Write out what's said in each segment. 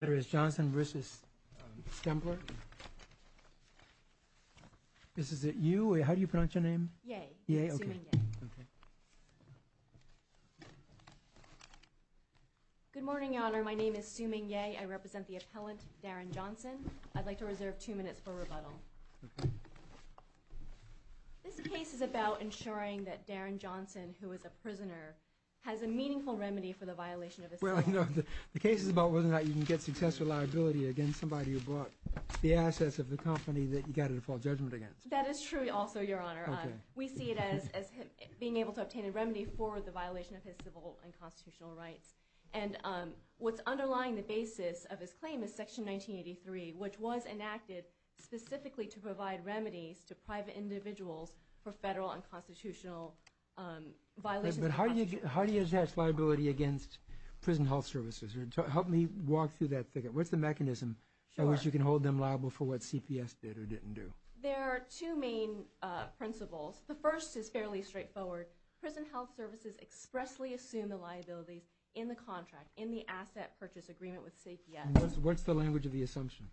Good morning Your Honor, my name is Sue Ming Yeh, I represent the appellant Darren Johnson. I'd like to reserve two minutes for rebuttal. This case is about ensuring that Darren Johnson, who is a prisoner, has a meaningful remedy for the violation of his civil and constitutional rights. That is true also, Your Honor. We see it as being able to obtain a remedy for the violation of his civil and constitutional rights. And what's underlying the basis of his claim is Section 1983, which was enacted specifically to provide remedies to private individuals for federal and constitutional violations. But how do you attach liability against prison health services? Help me walk through that. What's the mechanism by which you can hold them liable for what CPS did or didn't do? There are two main principles. The first is fairly straightforward. Prison health services expressly assume the liabilities in the contract, in the asset purchase agreement with CPS. What's the language of the assumption?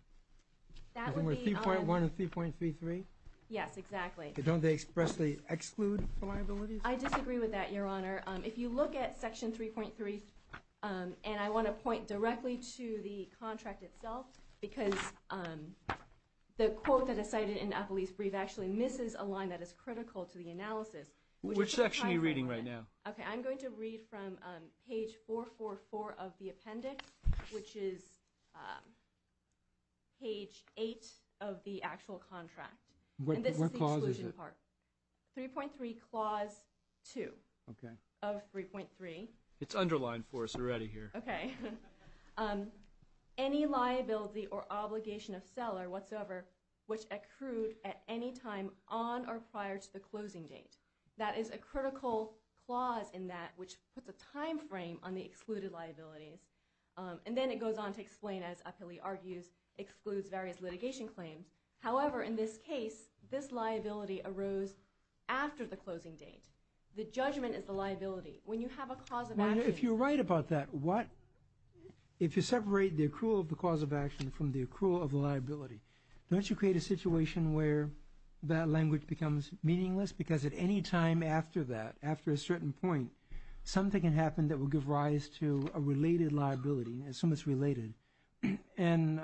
3.1 and 3.33? Yes, exactly. Don't they expressly exclude the liabilities? I disagree with that, Your Honor. If you look at Section 3.3, and I want to point directly to the contract itself, because the quote that is cited in Appley's brief actually misses a line that is critical to the analysis. Which section are you reading right now? Okay, I'm going to read from page 444 of the appendix, which is page 8 of the actual contract. What clause is it? 3.3 clause 2 of 3.3. It's underlined for us already here. Okay. Any liability or obligation of seller whatsoever which accrued at any time on or prior to the closing date. That is a critical clause in that, which puts a time frame on the excluded liabilities. And then it goes on to explain, as Appley argues, excludes various litigation claims. However, in this case, this liability arose after the closing date. The judgment is the liability. When you have a cause of action. If you're right about that, if you separate the accrual of the cause of action from the accrual of the liability, don't you create a situation where that language becomes meaningless? Because at any time after that, after a certain point, something can happen that will give rise to a related liability. Assume it's related. And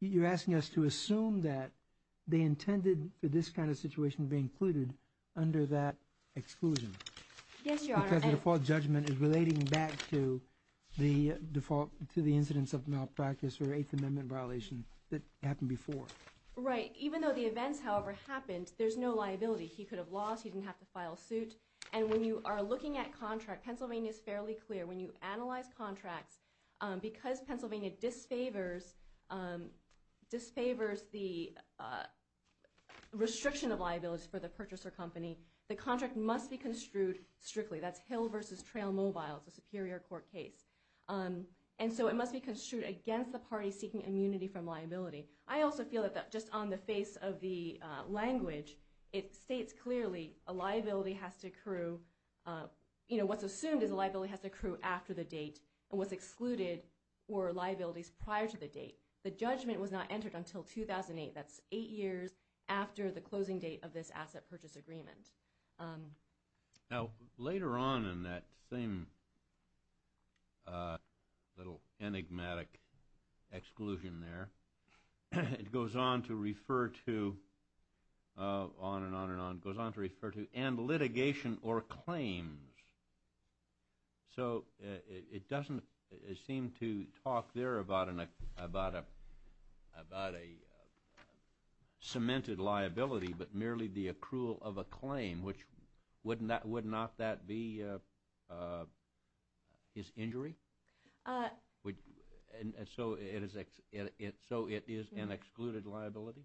you're asking us to assume that they intended for this kind of situation to be included under that exclusion. Yes, Your Honor. Because the default judgment is relating back to the default, to the incidence of malpractice or Eighth Amendment violation that happened before. Right. Even though the events, however, happened, there's no liability. He could have lost. He didn't have to file suit. And when you are looking at contract, Pennsylvania is fairly clear. When you analyze contracts, because Pennsylvania disfavors the restriction of liability for the purchaser company, the contract must be construed strictly. That's Hill versus Trail Mobile. It's a superior court case. And so it must be construed against the party seeking immunity from liability. I also feel that just on the face of the language, it states clearly a liability has to accrue. You know, what's assumed is a liability has to accrue after the date and was excluded or liabilities prior to the date. The judgment was not entered until 2008. That's eight years after the closing date of this asset purchase agreement. Now, later on in that same little enigmatic exclusion there, it goes on to refer to, on and on and on, it goes on to refer to and litigation or claims. So it doesn't seem to talk there about a cemented liability but merely the accrual of a claim, which would not that be his injury? So it is an excluded liability?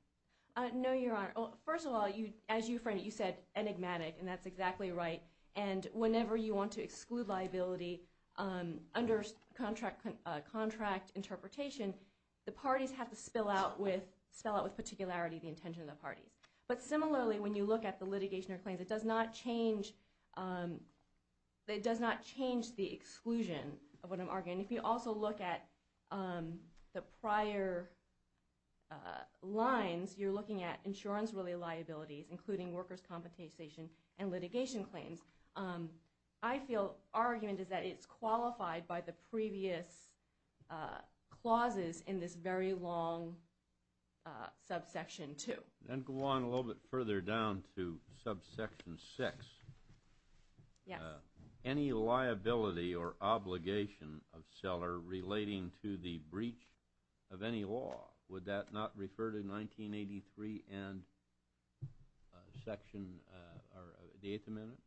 No, Your Honor. Well, first of all, as you said, enigmatic, and that's exactly right. And whenever you want to exclude liability under contract interpretation, the parties have to spell out with particularity the intention of the parties. But similarly, when you look at the litigation or claims, it does not change the exclusion of what I'm arguing. If you also look at the prior lines, you're looking at insurance-related liabilities, including workers' compensation and litigation claims. I feel our argument is that it's qualified by the previous clauses in this very long subsection 2. Then go on a little bit further down to subsection 6. Yes. Any liability or obligation of seller relating to the breach of any law, would that not refer to 1983 and Section or the Eighth Amendment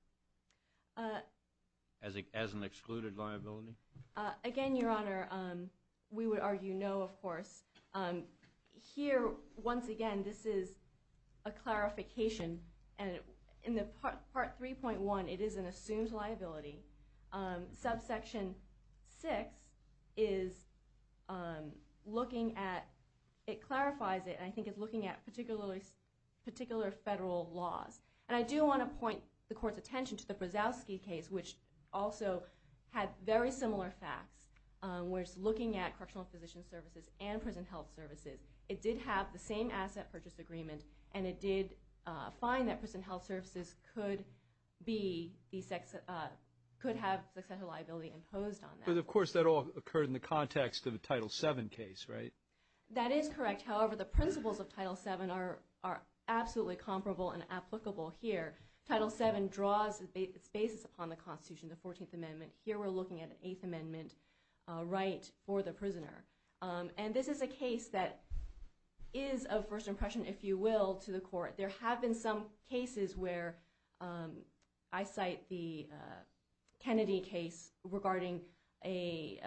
as an excluded liability? Again, Your Honor, we would argue no, of course. Here, once again, this is a clarification. And in Part 3.1, it is an assumed liability. Subsection 6 clarifies it, and I think it's looking at particular federal laws. And I do want to point the Court's attention to the Brzozowski case, which also had very similar facts, where it's looking at correctional physician services and prison health services. It did have the same asset purchase agreement, and it did find that prison health services could have sexual liability imposed on them. But, of course, that all occurred in the context of the Title VII case, right? That is correct. However, the principles of Title VII are absolutely comparable and applicable here. Title VII draws its basis upon the Constitution, the Fourteenth Amendment. Here, we're looking at an Eighth Amendment right for the prisoner. And this is a case that is of first impression, if you will, to the Court. There have been some cases where I cite the Kennedy case regarding a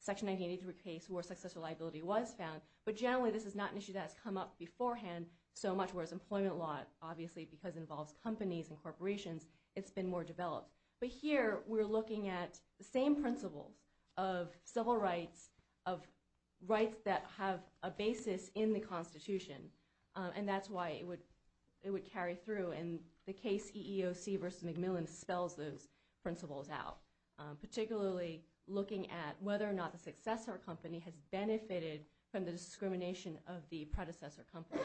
Section 1983 case where sexual liability was found. But generally, this is not an issue that has come up beforehand so much, whereas employment law, obviously, because it involves companies and corporations, it's been more developed. But here, we're looking at the same principles of civil rights, of rights that have a basis in the Constitution. And that's why it would carry through. And the case EEOC v. McMillan spells those principles out, particularly looking at whether or not the successor company has benefited from the discrimination of the predecessor company.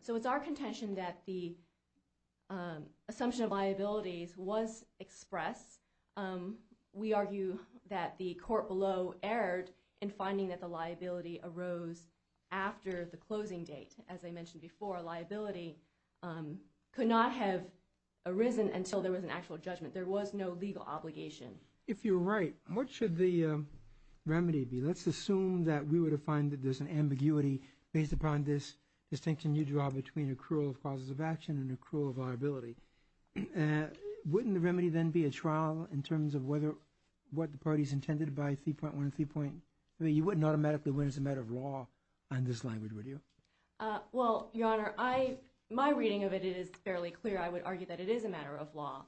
So it's our contention that the assumption of liabilities was expressed. We argue that the court below erred in finding that the liability arose after the closing date. As I mentioned before, liability could not have arisen until there was an actual judgment. There was no legal obligation. If you're right, what should the remedy be? Let's assume that we were to find that there's an ambiguity based upon this distinction you draw between accrual of causes of action and accrual of liability. Wouldn't the remedy then be a trial in terms of what the parties intended by 3.1 and 3.3? You wouldn't automatically win as a matter of law on this language, would you? Well, Your Honor, my reading of it is fairly clear. I would argue that it is a matter of law.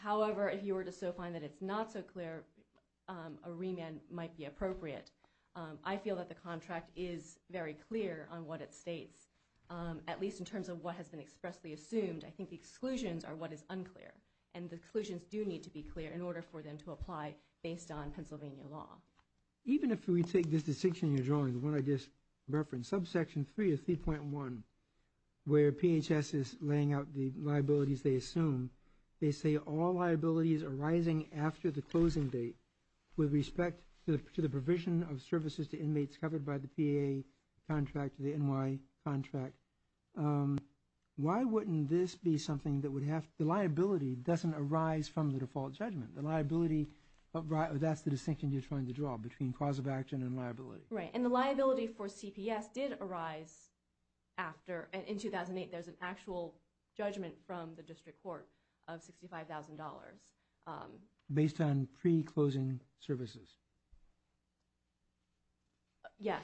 However, if you were to so find that it's not so clear, a remand might be appropriate. I feel that the contract is very clear on what it states, at least in terms of what has been expressly assumed. I think the exclusions are what is unclear, and the exclusions do need to be clear in order for them to apply based on Pennsylvania law. Even if we take this distinction you're drawing, the one I just referenced, subsection 3 of 3.1, where PHS is laying out the liabilities they assume, they say all liabilities arising after the closing date with respect to the provision of services to inmates covered by the PAA contract, the NY contract. Why wouldn't this be something that would have, the liability doesn't arise from the default judgment? The liability, that's the distinction you're trying to draw between cause of action and liability. Right, and the liability for CPS did arise after, in 2008 there's an actual judgment from the district court of $65,000. Based on pre-closing services? Yes,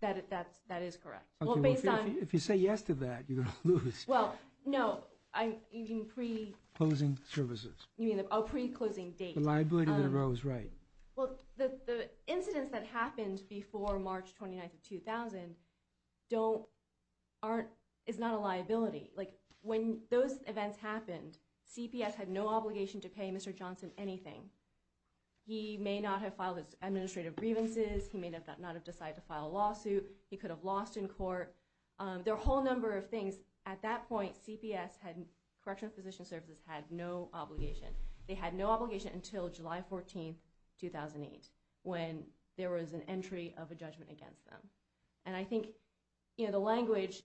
that is correct. If you say yes to that, you're going to lose. Well, no, I mean pre- Closing services. Oh, pre-closing date. The liability that arose, right. Well, the incidents that happened before March 29th of 2000 is not a liability. When those events happened, CPS had no obligation to pay Mr. Johnson anything. He may not have filed his administrative grievances, he may not have decided to file a lawsuit, he could have lost in court. There are a whole number of things. At that point, Correctional Physician Services had no obligation. They had no obligation until July 14th, 2008, when there was an entry of a judgment against them. And I think, you know, the language,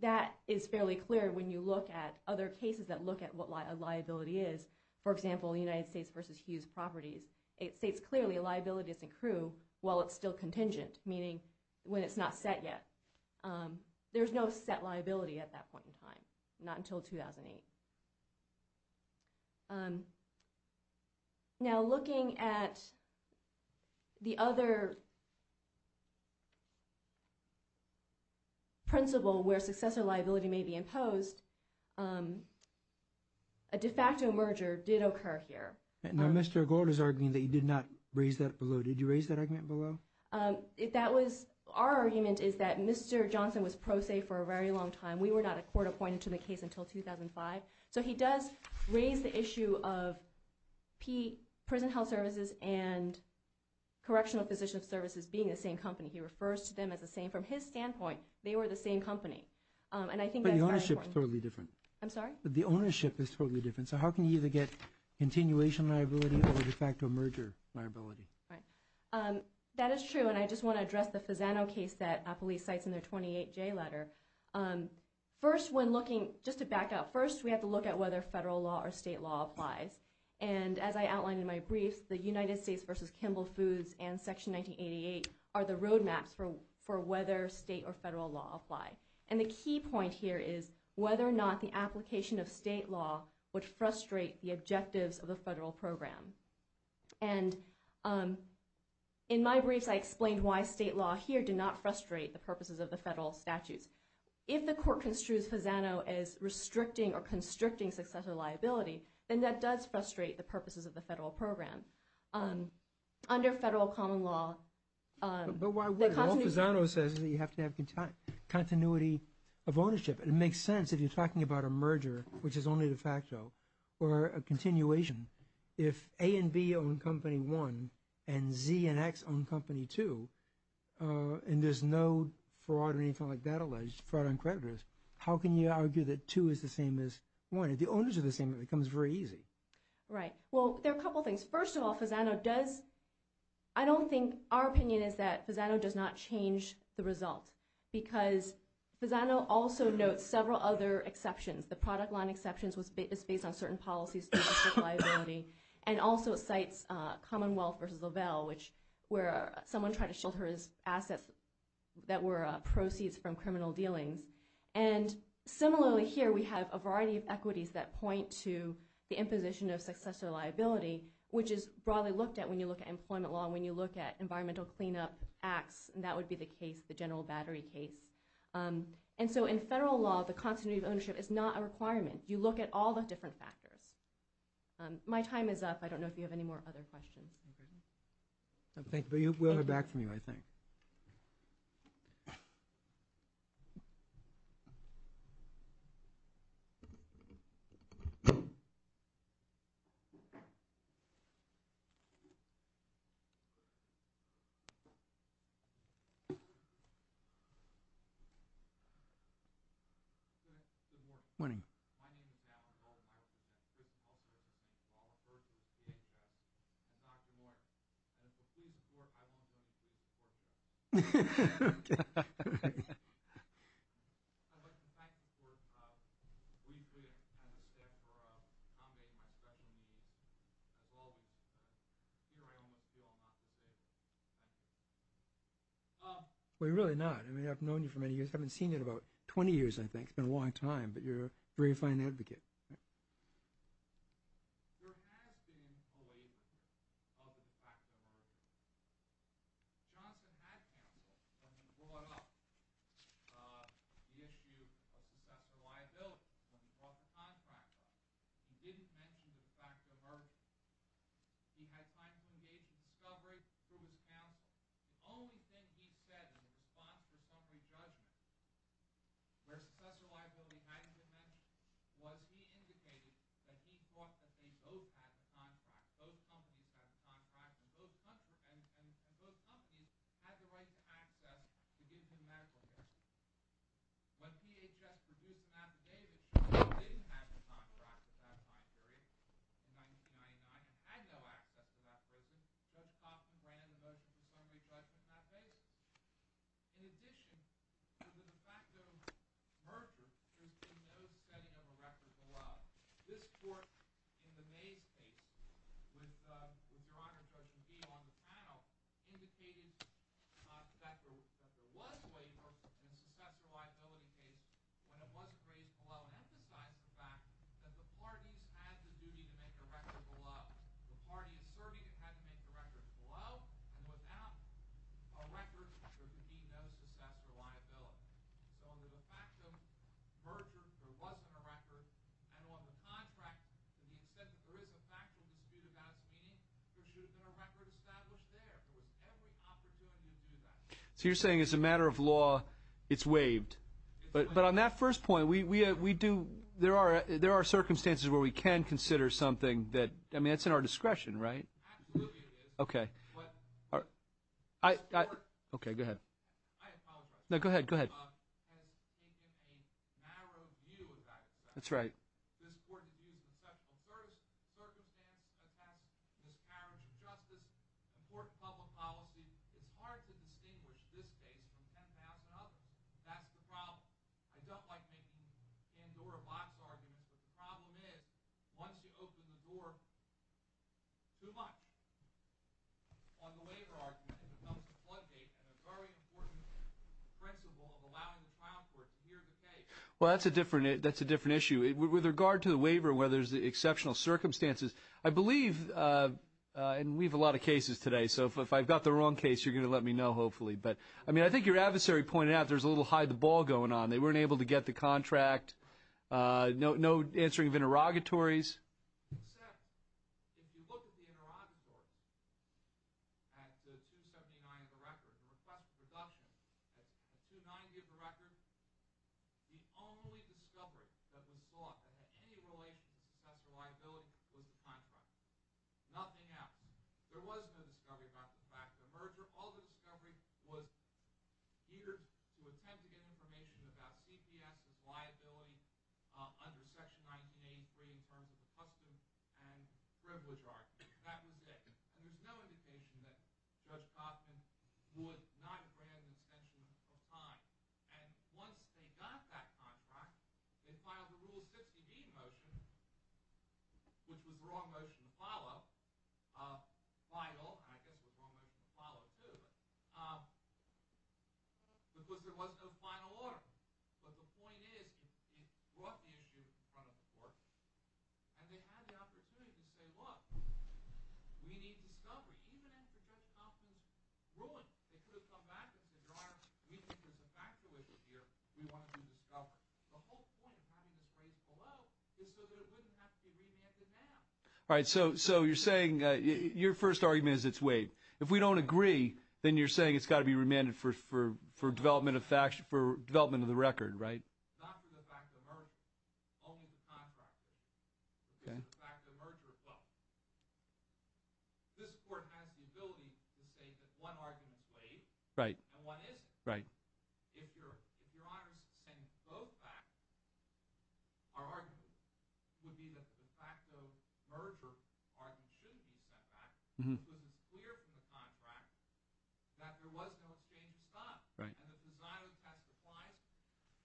that is fairly clear when you look at other cases that look at what a liability is. For example, United States v. Hughes Properties, it states clearly a liability doesn't accrue while it's still contingent, meaning when it's not set yet. There's no set liability at that point in time, not until 2008. Now, looking at the other principle where successor liability may be imposed, a de facto merger did occur here. Now, Mr. Gould is arguing that he did not raise that below. Did you raise that argument below? Our argument is that Mr. Johnson was pro se for a very long time. We were not a court appointed to the case until 2005. So he does raise the issue of prison health services and Correctional Physician Services being the same company. He refers to them as the same. From his standpoint, they were the same company. But the ownership is totally different. I'm sorry? The ownership is totally different. So how can you either get continuation liability or de facto merger liability? That is true, and I just want to address the Fasano case that police cites in their 28J letter. First, when looking, just to back up, first we have to look at whether federal law or state law applies. And as I outlined in my briefs, the United States v. Kimball Foods and Section 1988 are the roadmaps for whether state or federal law apply. And the key point here is whether or not the application of state law would frustrate the objectives of the federal program. And in my briefs, I explained why state law here did not frustrate the purposes of the federal statutes. If the court construes Fasano as restricting or constricting successor liability, then that does frustrate the purposes of the federal program. Under federal common law... But why would it? Well, Fasano says that you have to have continuity of ownership. It makes sense if you're talking about a merger, which is only de facto, or a continuation. If A and B own Company 1, and Z and X own Company 2, and there's no fraud or anything like that alleged, fraud on creditors, how can you argue that 2 is the same as 1? If the owners are the same, it becomes very easy. Right. Well, there are a couple of things. First of all, Fasano does... I don't think... Our opinion is that Fasano does not change the result because Fasano also notes several other exceptions. The product line exception is based on certain policies to restrict liability. And also it cites Commonwealth v. Lavelle, where someone tried to shelter his assets that were proceeds from criminal dealings. And similarly here, we have a variety of equities that point to the imposition of successor liability, which is broadly looked at when you look at employment law and when you look at environmental cleanup acts, and that would be the case, the general battery case. And so in federal law, the continuity of ownership is not a requirement. You look at all the different factors. My time is up. I don't know if you have any more other questions. Thank you. We'll have it back from you, I think. Good morning. Good morning. We really not. I mean, I've known you for many years. I haven't seen you in about 20 years, I think. It's been a long time, but you're a very fine advocate. Where successor liability hadn't been mentioned, was he indicating that he thought that they both had the contract, both companies had the contract, and both companies had the right to access to give him medical care. When DHS produced an affidavit, they didn't have the contract at that time period, in 1999, and had no access to that prison, Judge Coffman ran the motions of summary judgment on that basis. In addition to the de facto merger, there's been no setting of a record below. This court, in the Mays case, with Your Honor, Judge McGee on the panel, indicated that there was waiver in the successor liability case when it wasn't raised below and emphasized the fact that the parties had the duty to make a record below. The party asserting it had to make the record below and without a record, there could be no successor liability. So under the fact of merger, there wasn't a record, and on the contract, to the extent that there is a factual dispute about its meaning, there should have been a record established there. There was every opportunity to do that. So you're saying as a matter of law, it's waived. But on that first point, there are circumstances where we can consider something that's in our discretion, right? Absolutely it is. Okay. Okay, go ahead. No, go ahead, go ahead. That's right. Well, that's a different issue. With regard to the waiver, where there's exceptional circumstances, I believe, and we have a lot of cases today, so if I've got the wrong case, you're going to let me know, hopefully. But, I mean, I think your adversary pointed out there's a little hide-the-ball going on. They weren't able to get the contract, no answering of interrogatories. At 279 of a record, the request for deduction, at 290 of a record, the only discovery that was sought that had any relation to success or liability was the contract. Nothing else. There was no discovery about the fact of the merger. All the discovery was geared to attempt to get information about CPS and liability under Section 1983 in terms of the custom and privilege argument. That was it. And there's no indication that Judge Kaufman would not grant an extension of time. And once they got that contract, they filed the Rule 60B motion, which was the wrong motion to follow, and I guess it was the wrong motion to follow, too, because there was no final order. But the point is, it brought the issue in front of the court, and they had the opportunity to say, look, we need discovery. Even after Judge Kaufman's ruling, they could have come back and said, your Honor, we think there's a factor with it here. We want it to be discovered. The whole point of having this raised below is so that it wouldn't have to be remanded now. All right, so you're saying your first argument is it's waived. If we don't agree, then you're saying it's got to be remanded for development of the record, right? Not for the facto merger, only the contract. If it's a facto merger, well, this court has the ability to say that one argument is waived and one isn't. If your Honor is saying both facts are argued, it would be that the facto merger argument should be sent back because it's clear from the contract that there was no exchange of stock. And the design of the test applies,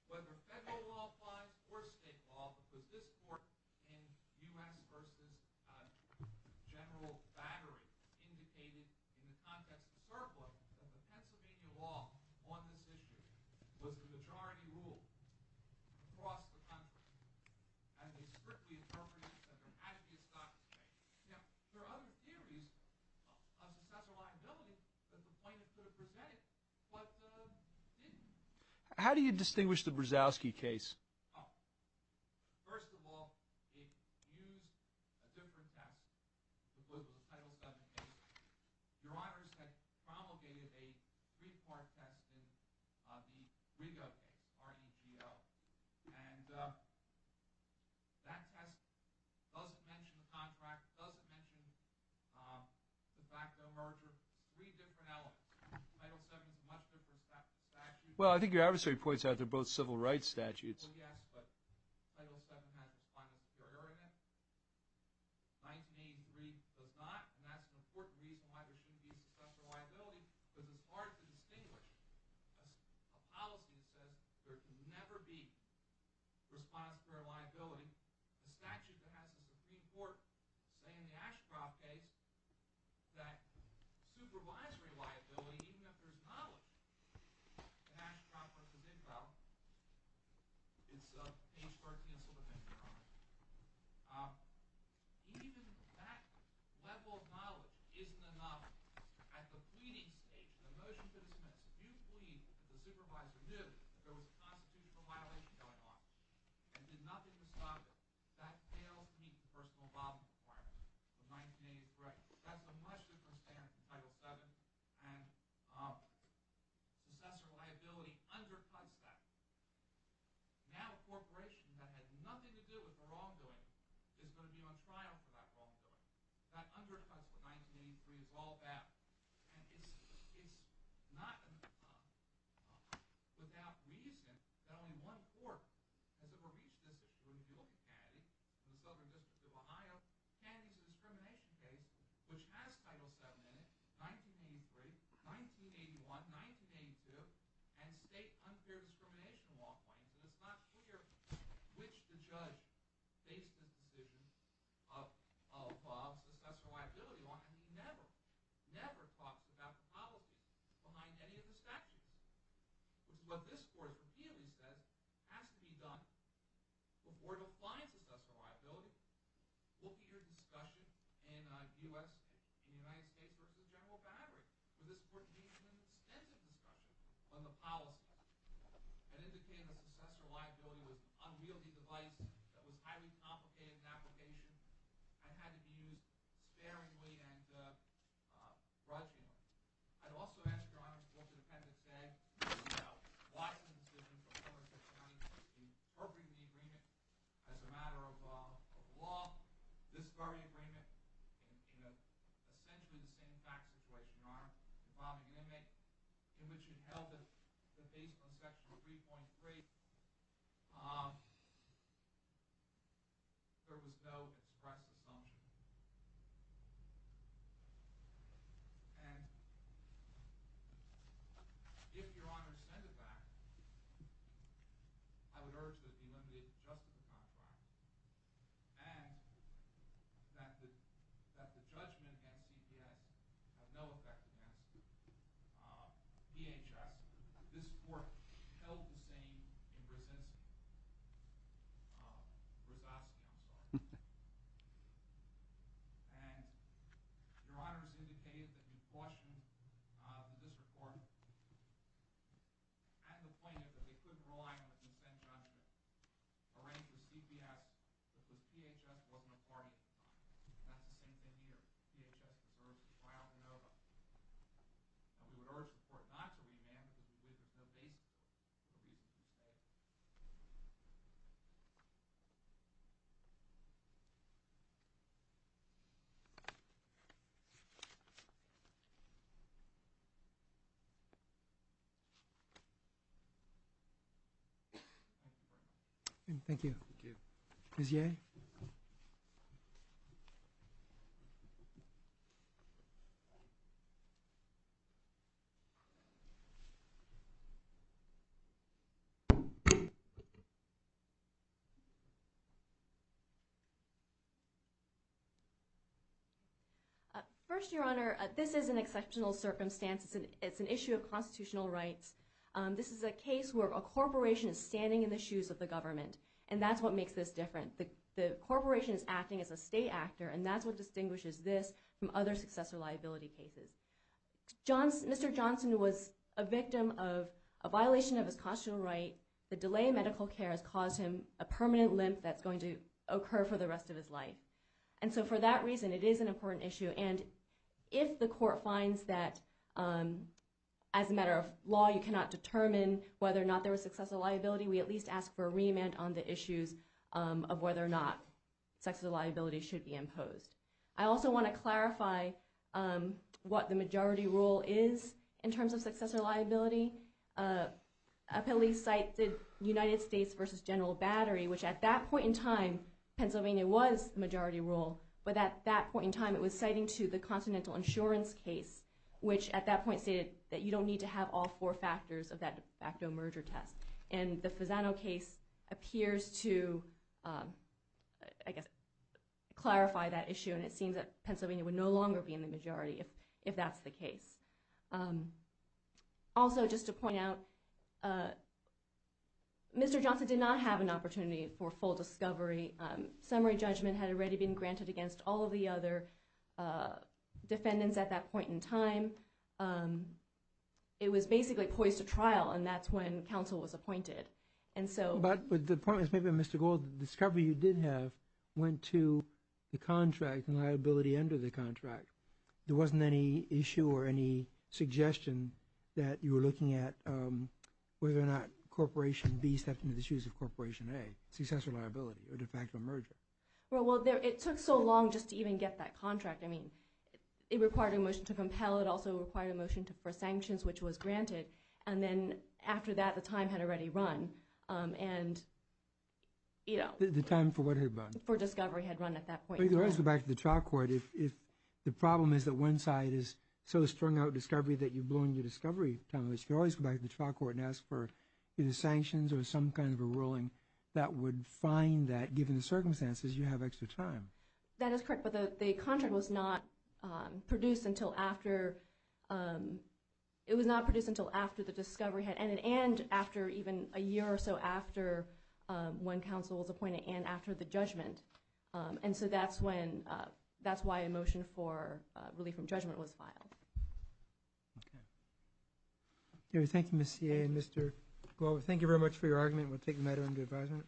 whether federal law applies or state law, because this court in U.S. v. General Battery indicated in the context of surplus that the Pennsylvania law on this issue was the majority rule across the country, and they strictly interpreted that there had to be a stock exchange. Now, there are other theories of successor liability that the plaintiff could have presented, but didn't. How do you distinguish the Brzozowski case? First of all, it used a different test. It was a Title VII case. Your Honors had promulgated a three-part test in the Rigo case, R-E-G-O. And that test doesn't mention the contract, doesn't mention the facto merger, three different elements. Title VII is a much different statute. Well, I think your adversary points out they're both civil rights statutes. Well, yes, but Title VII has a responsibility for error in it. 1983 does not, and that's an important reason why there shouldn't be successor liability because it's hard to distinguish a policy that says there can never be responsibility for liability. The statute that has the Supreme Court say in the Ashcroft case that supervisory liability, even if there's knowledge that Ashcroft was involved, it's page 13 of the Civil Defense Charter. Even that level of knowledge isn't a knowledge. At the pleading stage, the motion to dismiss, if you plead that the supervisor knew that there was a constitutional violation going on and did nothing to stop it, that fails to meet the personal involvement requirement of 1983. That's a much different standard from Title VII, and successor liability undercuts that. Now a corporation that had nothing to do with the wrongdoing is going to be on trial for that wrongdoing. That undercuts what 1983 is all about. And it's not without reason that only one court has ever reached this issue, and that would be Kennedy. In the Southern District of Ohio, Kennedy's discrimination case, which has Title VII in it, 1983, 1981, 1982, and state unfair discrimination law claims, and it's not clear which the judge faced the decision of Bob's successor liability law. I mean, he never, never talks about the policy behind any of the statutes. What this court repeatedly says has to be done before it applies successor liability. Look at your discussion in the U.S. and the United States versus General Battery, where this court gave them an extensive discussion on the policy and indicated that successor liability was an unwieldy device that was highly complicated in application and had to be used sparingly and grudgingly. I'd also ask, Your Honor, what the defendant said about Wiesman's decision from 169 to appropriate the agreement as a matter of law. This very agreement, in essentially the same fact situation, Your Honor, in which it held that based on Section 3.3, there was no express assumption. And if Your Honor send it back, I would urge that it be limited just to the contract and that the judgment against CPS have no effect against DHS. This court held the same in Brzezinski. Brzezinski, I'm sorry. And Your Honor has indicated that you cautioned the district court and the plaintiff that they couldn't rely on the consent judgment arranged with CPS because DHS wasn't a party at the time. And that's the same thing here. DHS deserves a trial in Nova. And we would urge the court not to remand because there's no basis for it. Thank you. Thank you. Thank you. Thank you. First, Your Honor, this is an exceptional circumstance. It's an issue of constitutional rights. This is a case where a corporation is standing in the shoes of the government. And that's what makes this different. The corporation is acting as a state actor, and that's what distinguishes this from other successor liability cases. Mr. Johnson was a victim of a violation of his constitutional right. The delay in medical care has caused him a permanent limp that's going to occur for the rest of his life. And so for that reason, it is an important issue. And if the court finds that as a matter of law, you cannot determine whether or not there was successor liability, we at least ask for a remand on the issues of whether or not successor liability should be imposed. I also want to clarify what the majority rule is in terms of successor liability. A police site did United States versus General Battery, which at that point in time, Pennsylvania was the majority rule. But at that point in time, it was citing to the Continental Insurance case, which at that point stated that you don't need to have all four factors of that de facto merger test. And the Fasano case appears to, I guess, clarify that issue, and it seems that Pennsylvania would no longer be in the majority if that's the case. Also, just to point out, Mr. Johnson did not have an opportunity for full discovery. Summary judgment had already been granted against all of the other defendants at that point in time. It was basically poised to trial, and that's when counsel was appointed. But the point is maybe, Mr. Gold, the discovery you did have went to the contract and liability under the contract. There wasn't any issue or any suggestion that you were looking at whether or not Corporation B stepped into the shoes of Corporation A, successor liability, or de facto merger. Well, it took so long just to even get that contract. I mean, it required a motion to compel. It also required a motion for sanctions, which was granted. And then after that, the time had already run. And, you know. The time for what had run? For discovery had run at that point. But you could always go back to the trial court if the problem is that one side is so strung out discovery that you've blown your discovery time. You could always go back to the trial court and ask for either sanctions or some kind of a ruling that would find that, given the circumstances, you have extra time. That is correct. But the contract was not produced until after the discovery had ended and after even a year or so after one counsel was appointed and after the judgment. And so that's why a motion for relief from judgment was filed. Okay. Thank you, Ms. Cia and Mr. Glover. Thank you very much for your argument. We'll take the matter into advisement.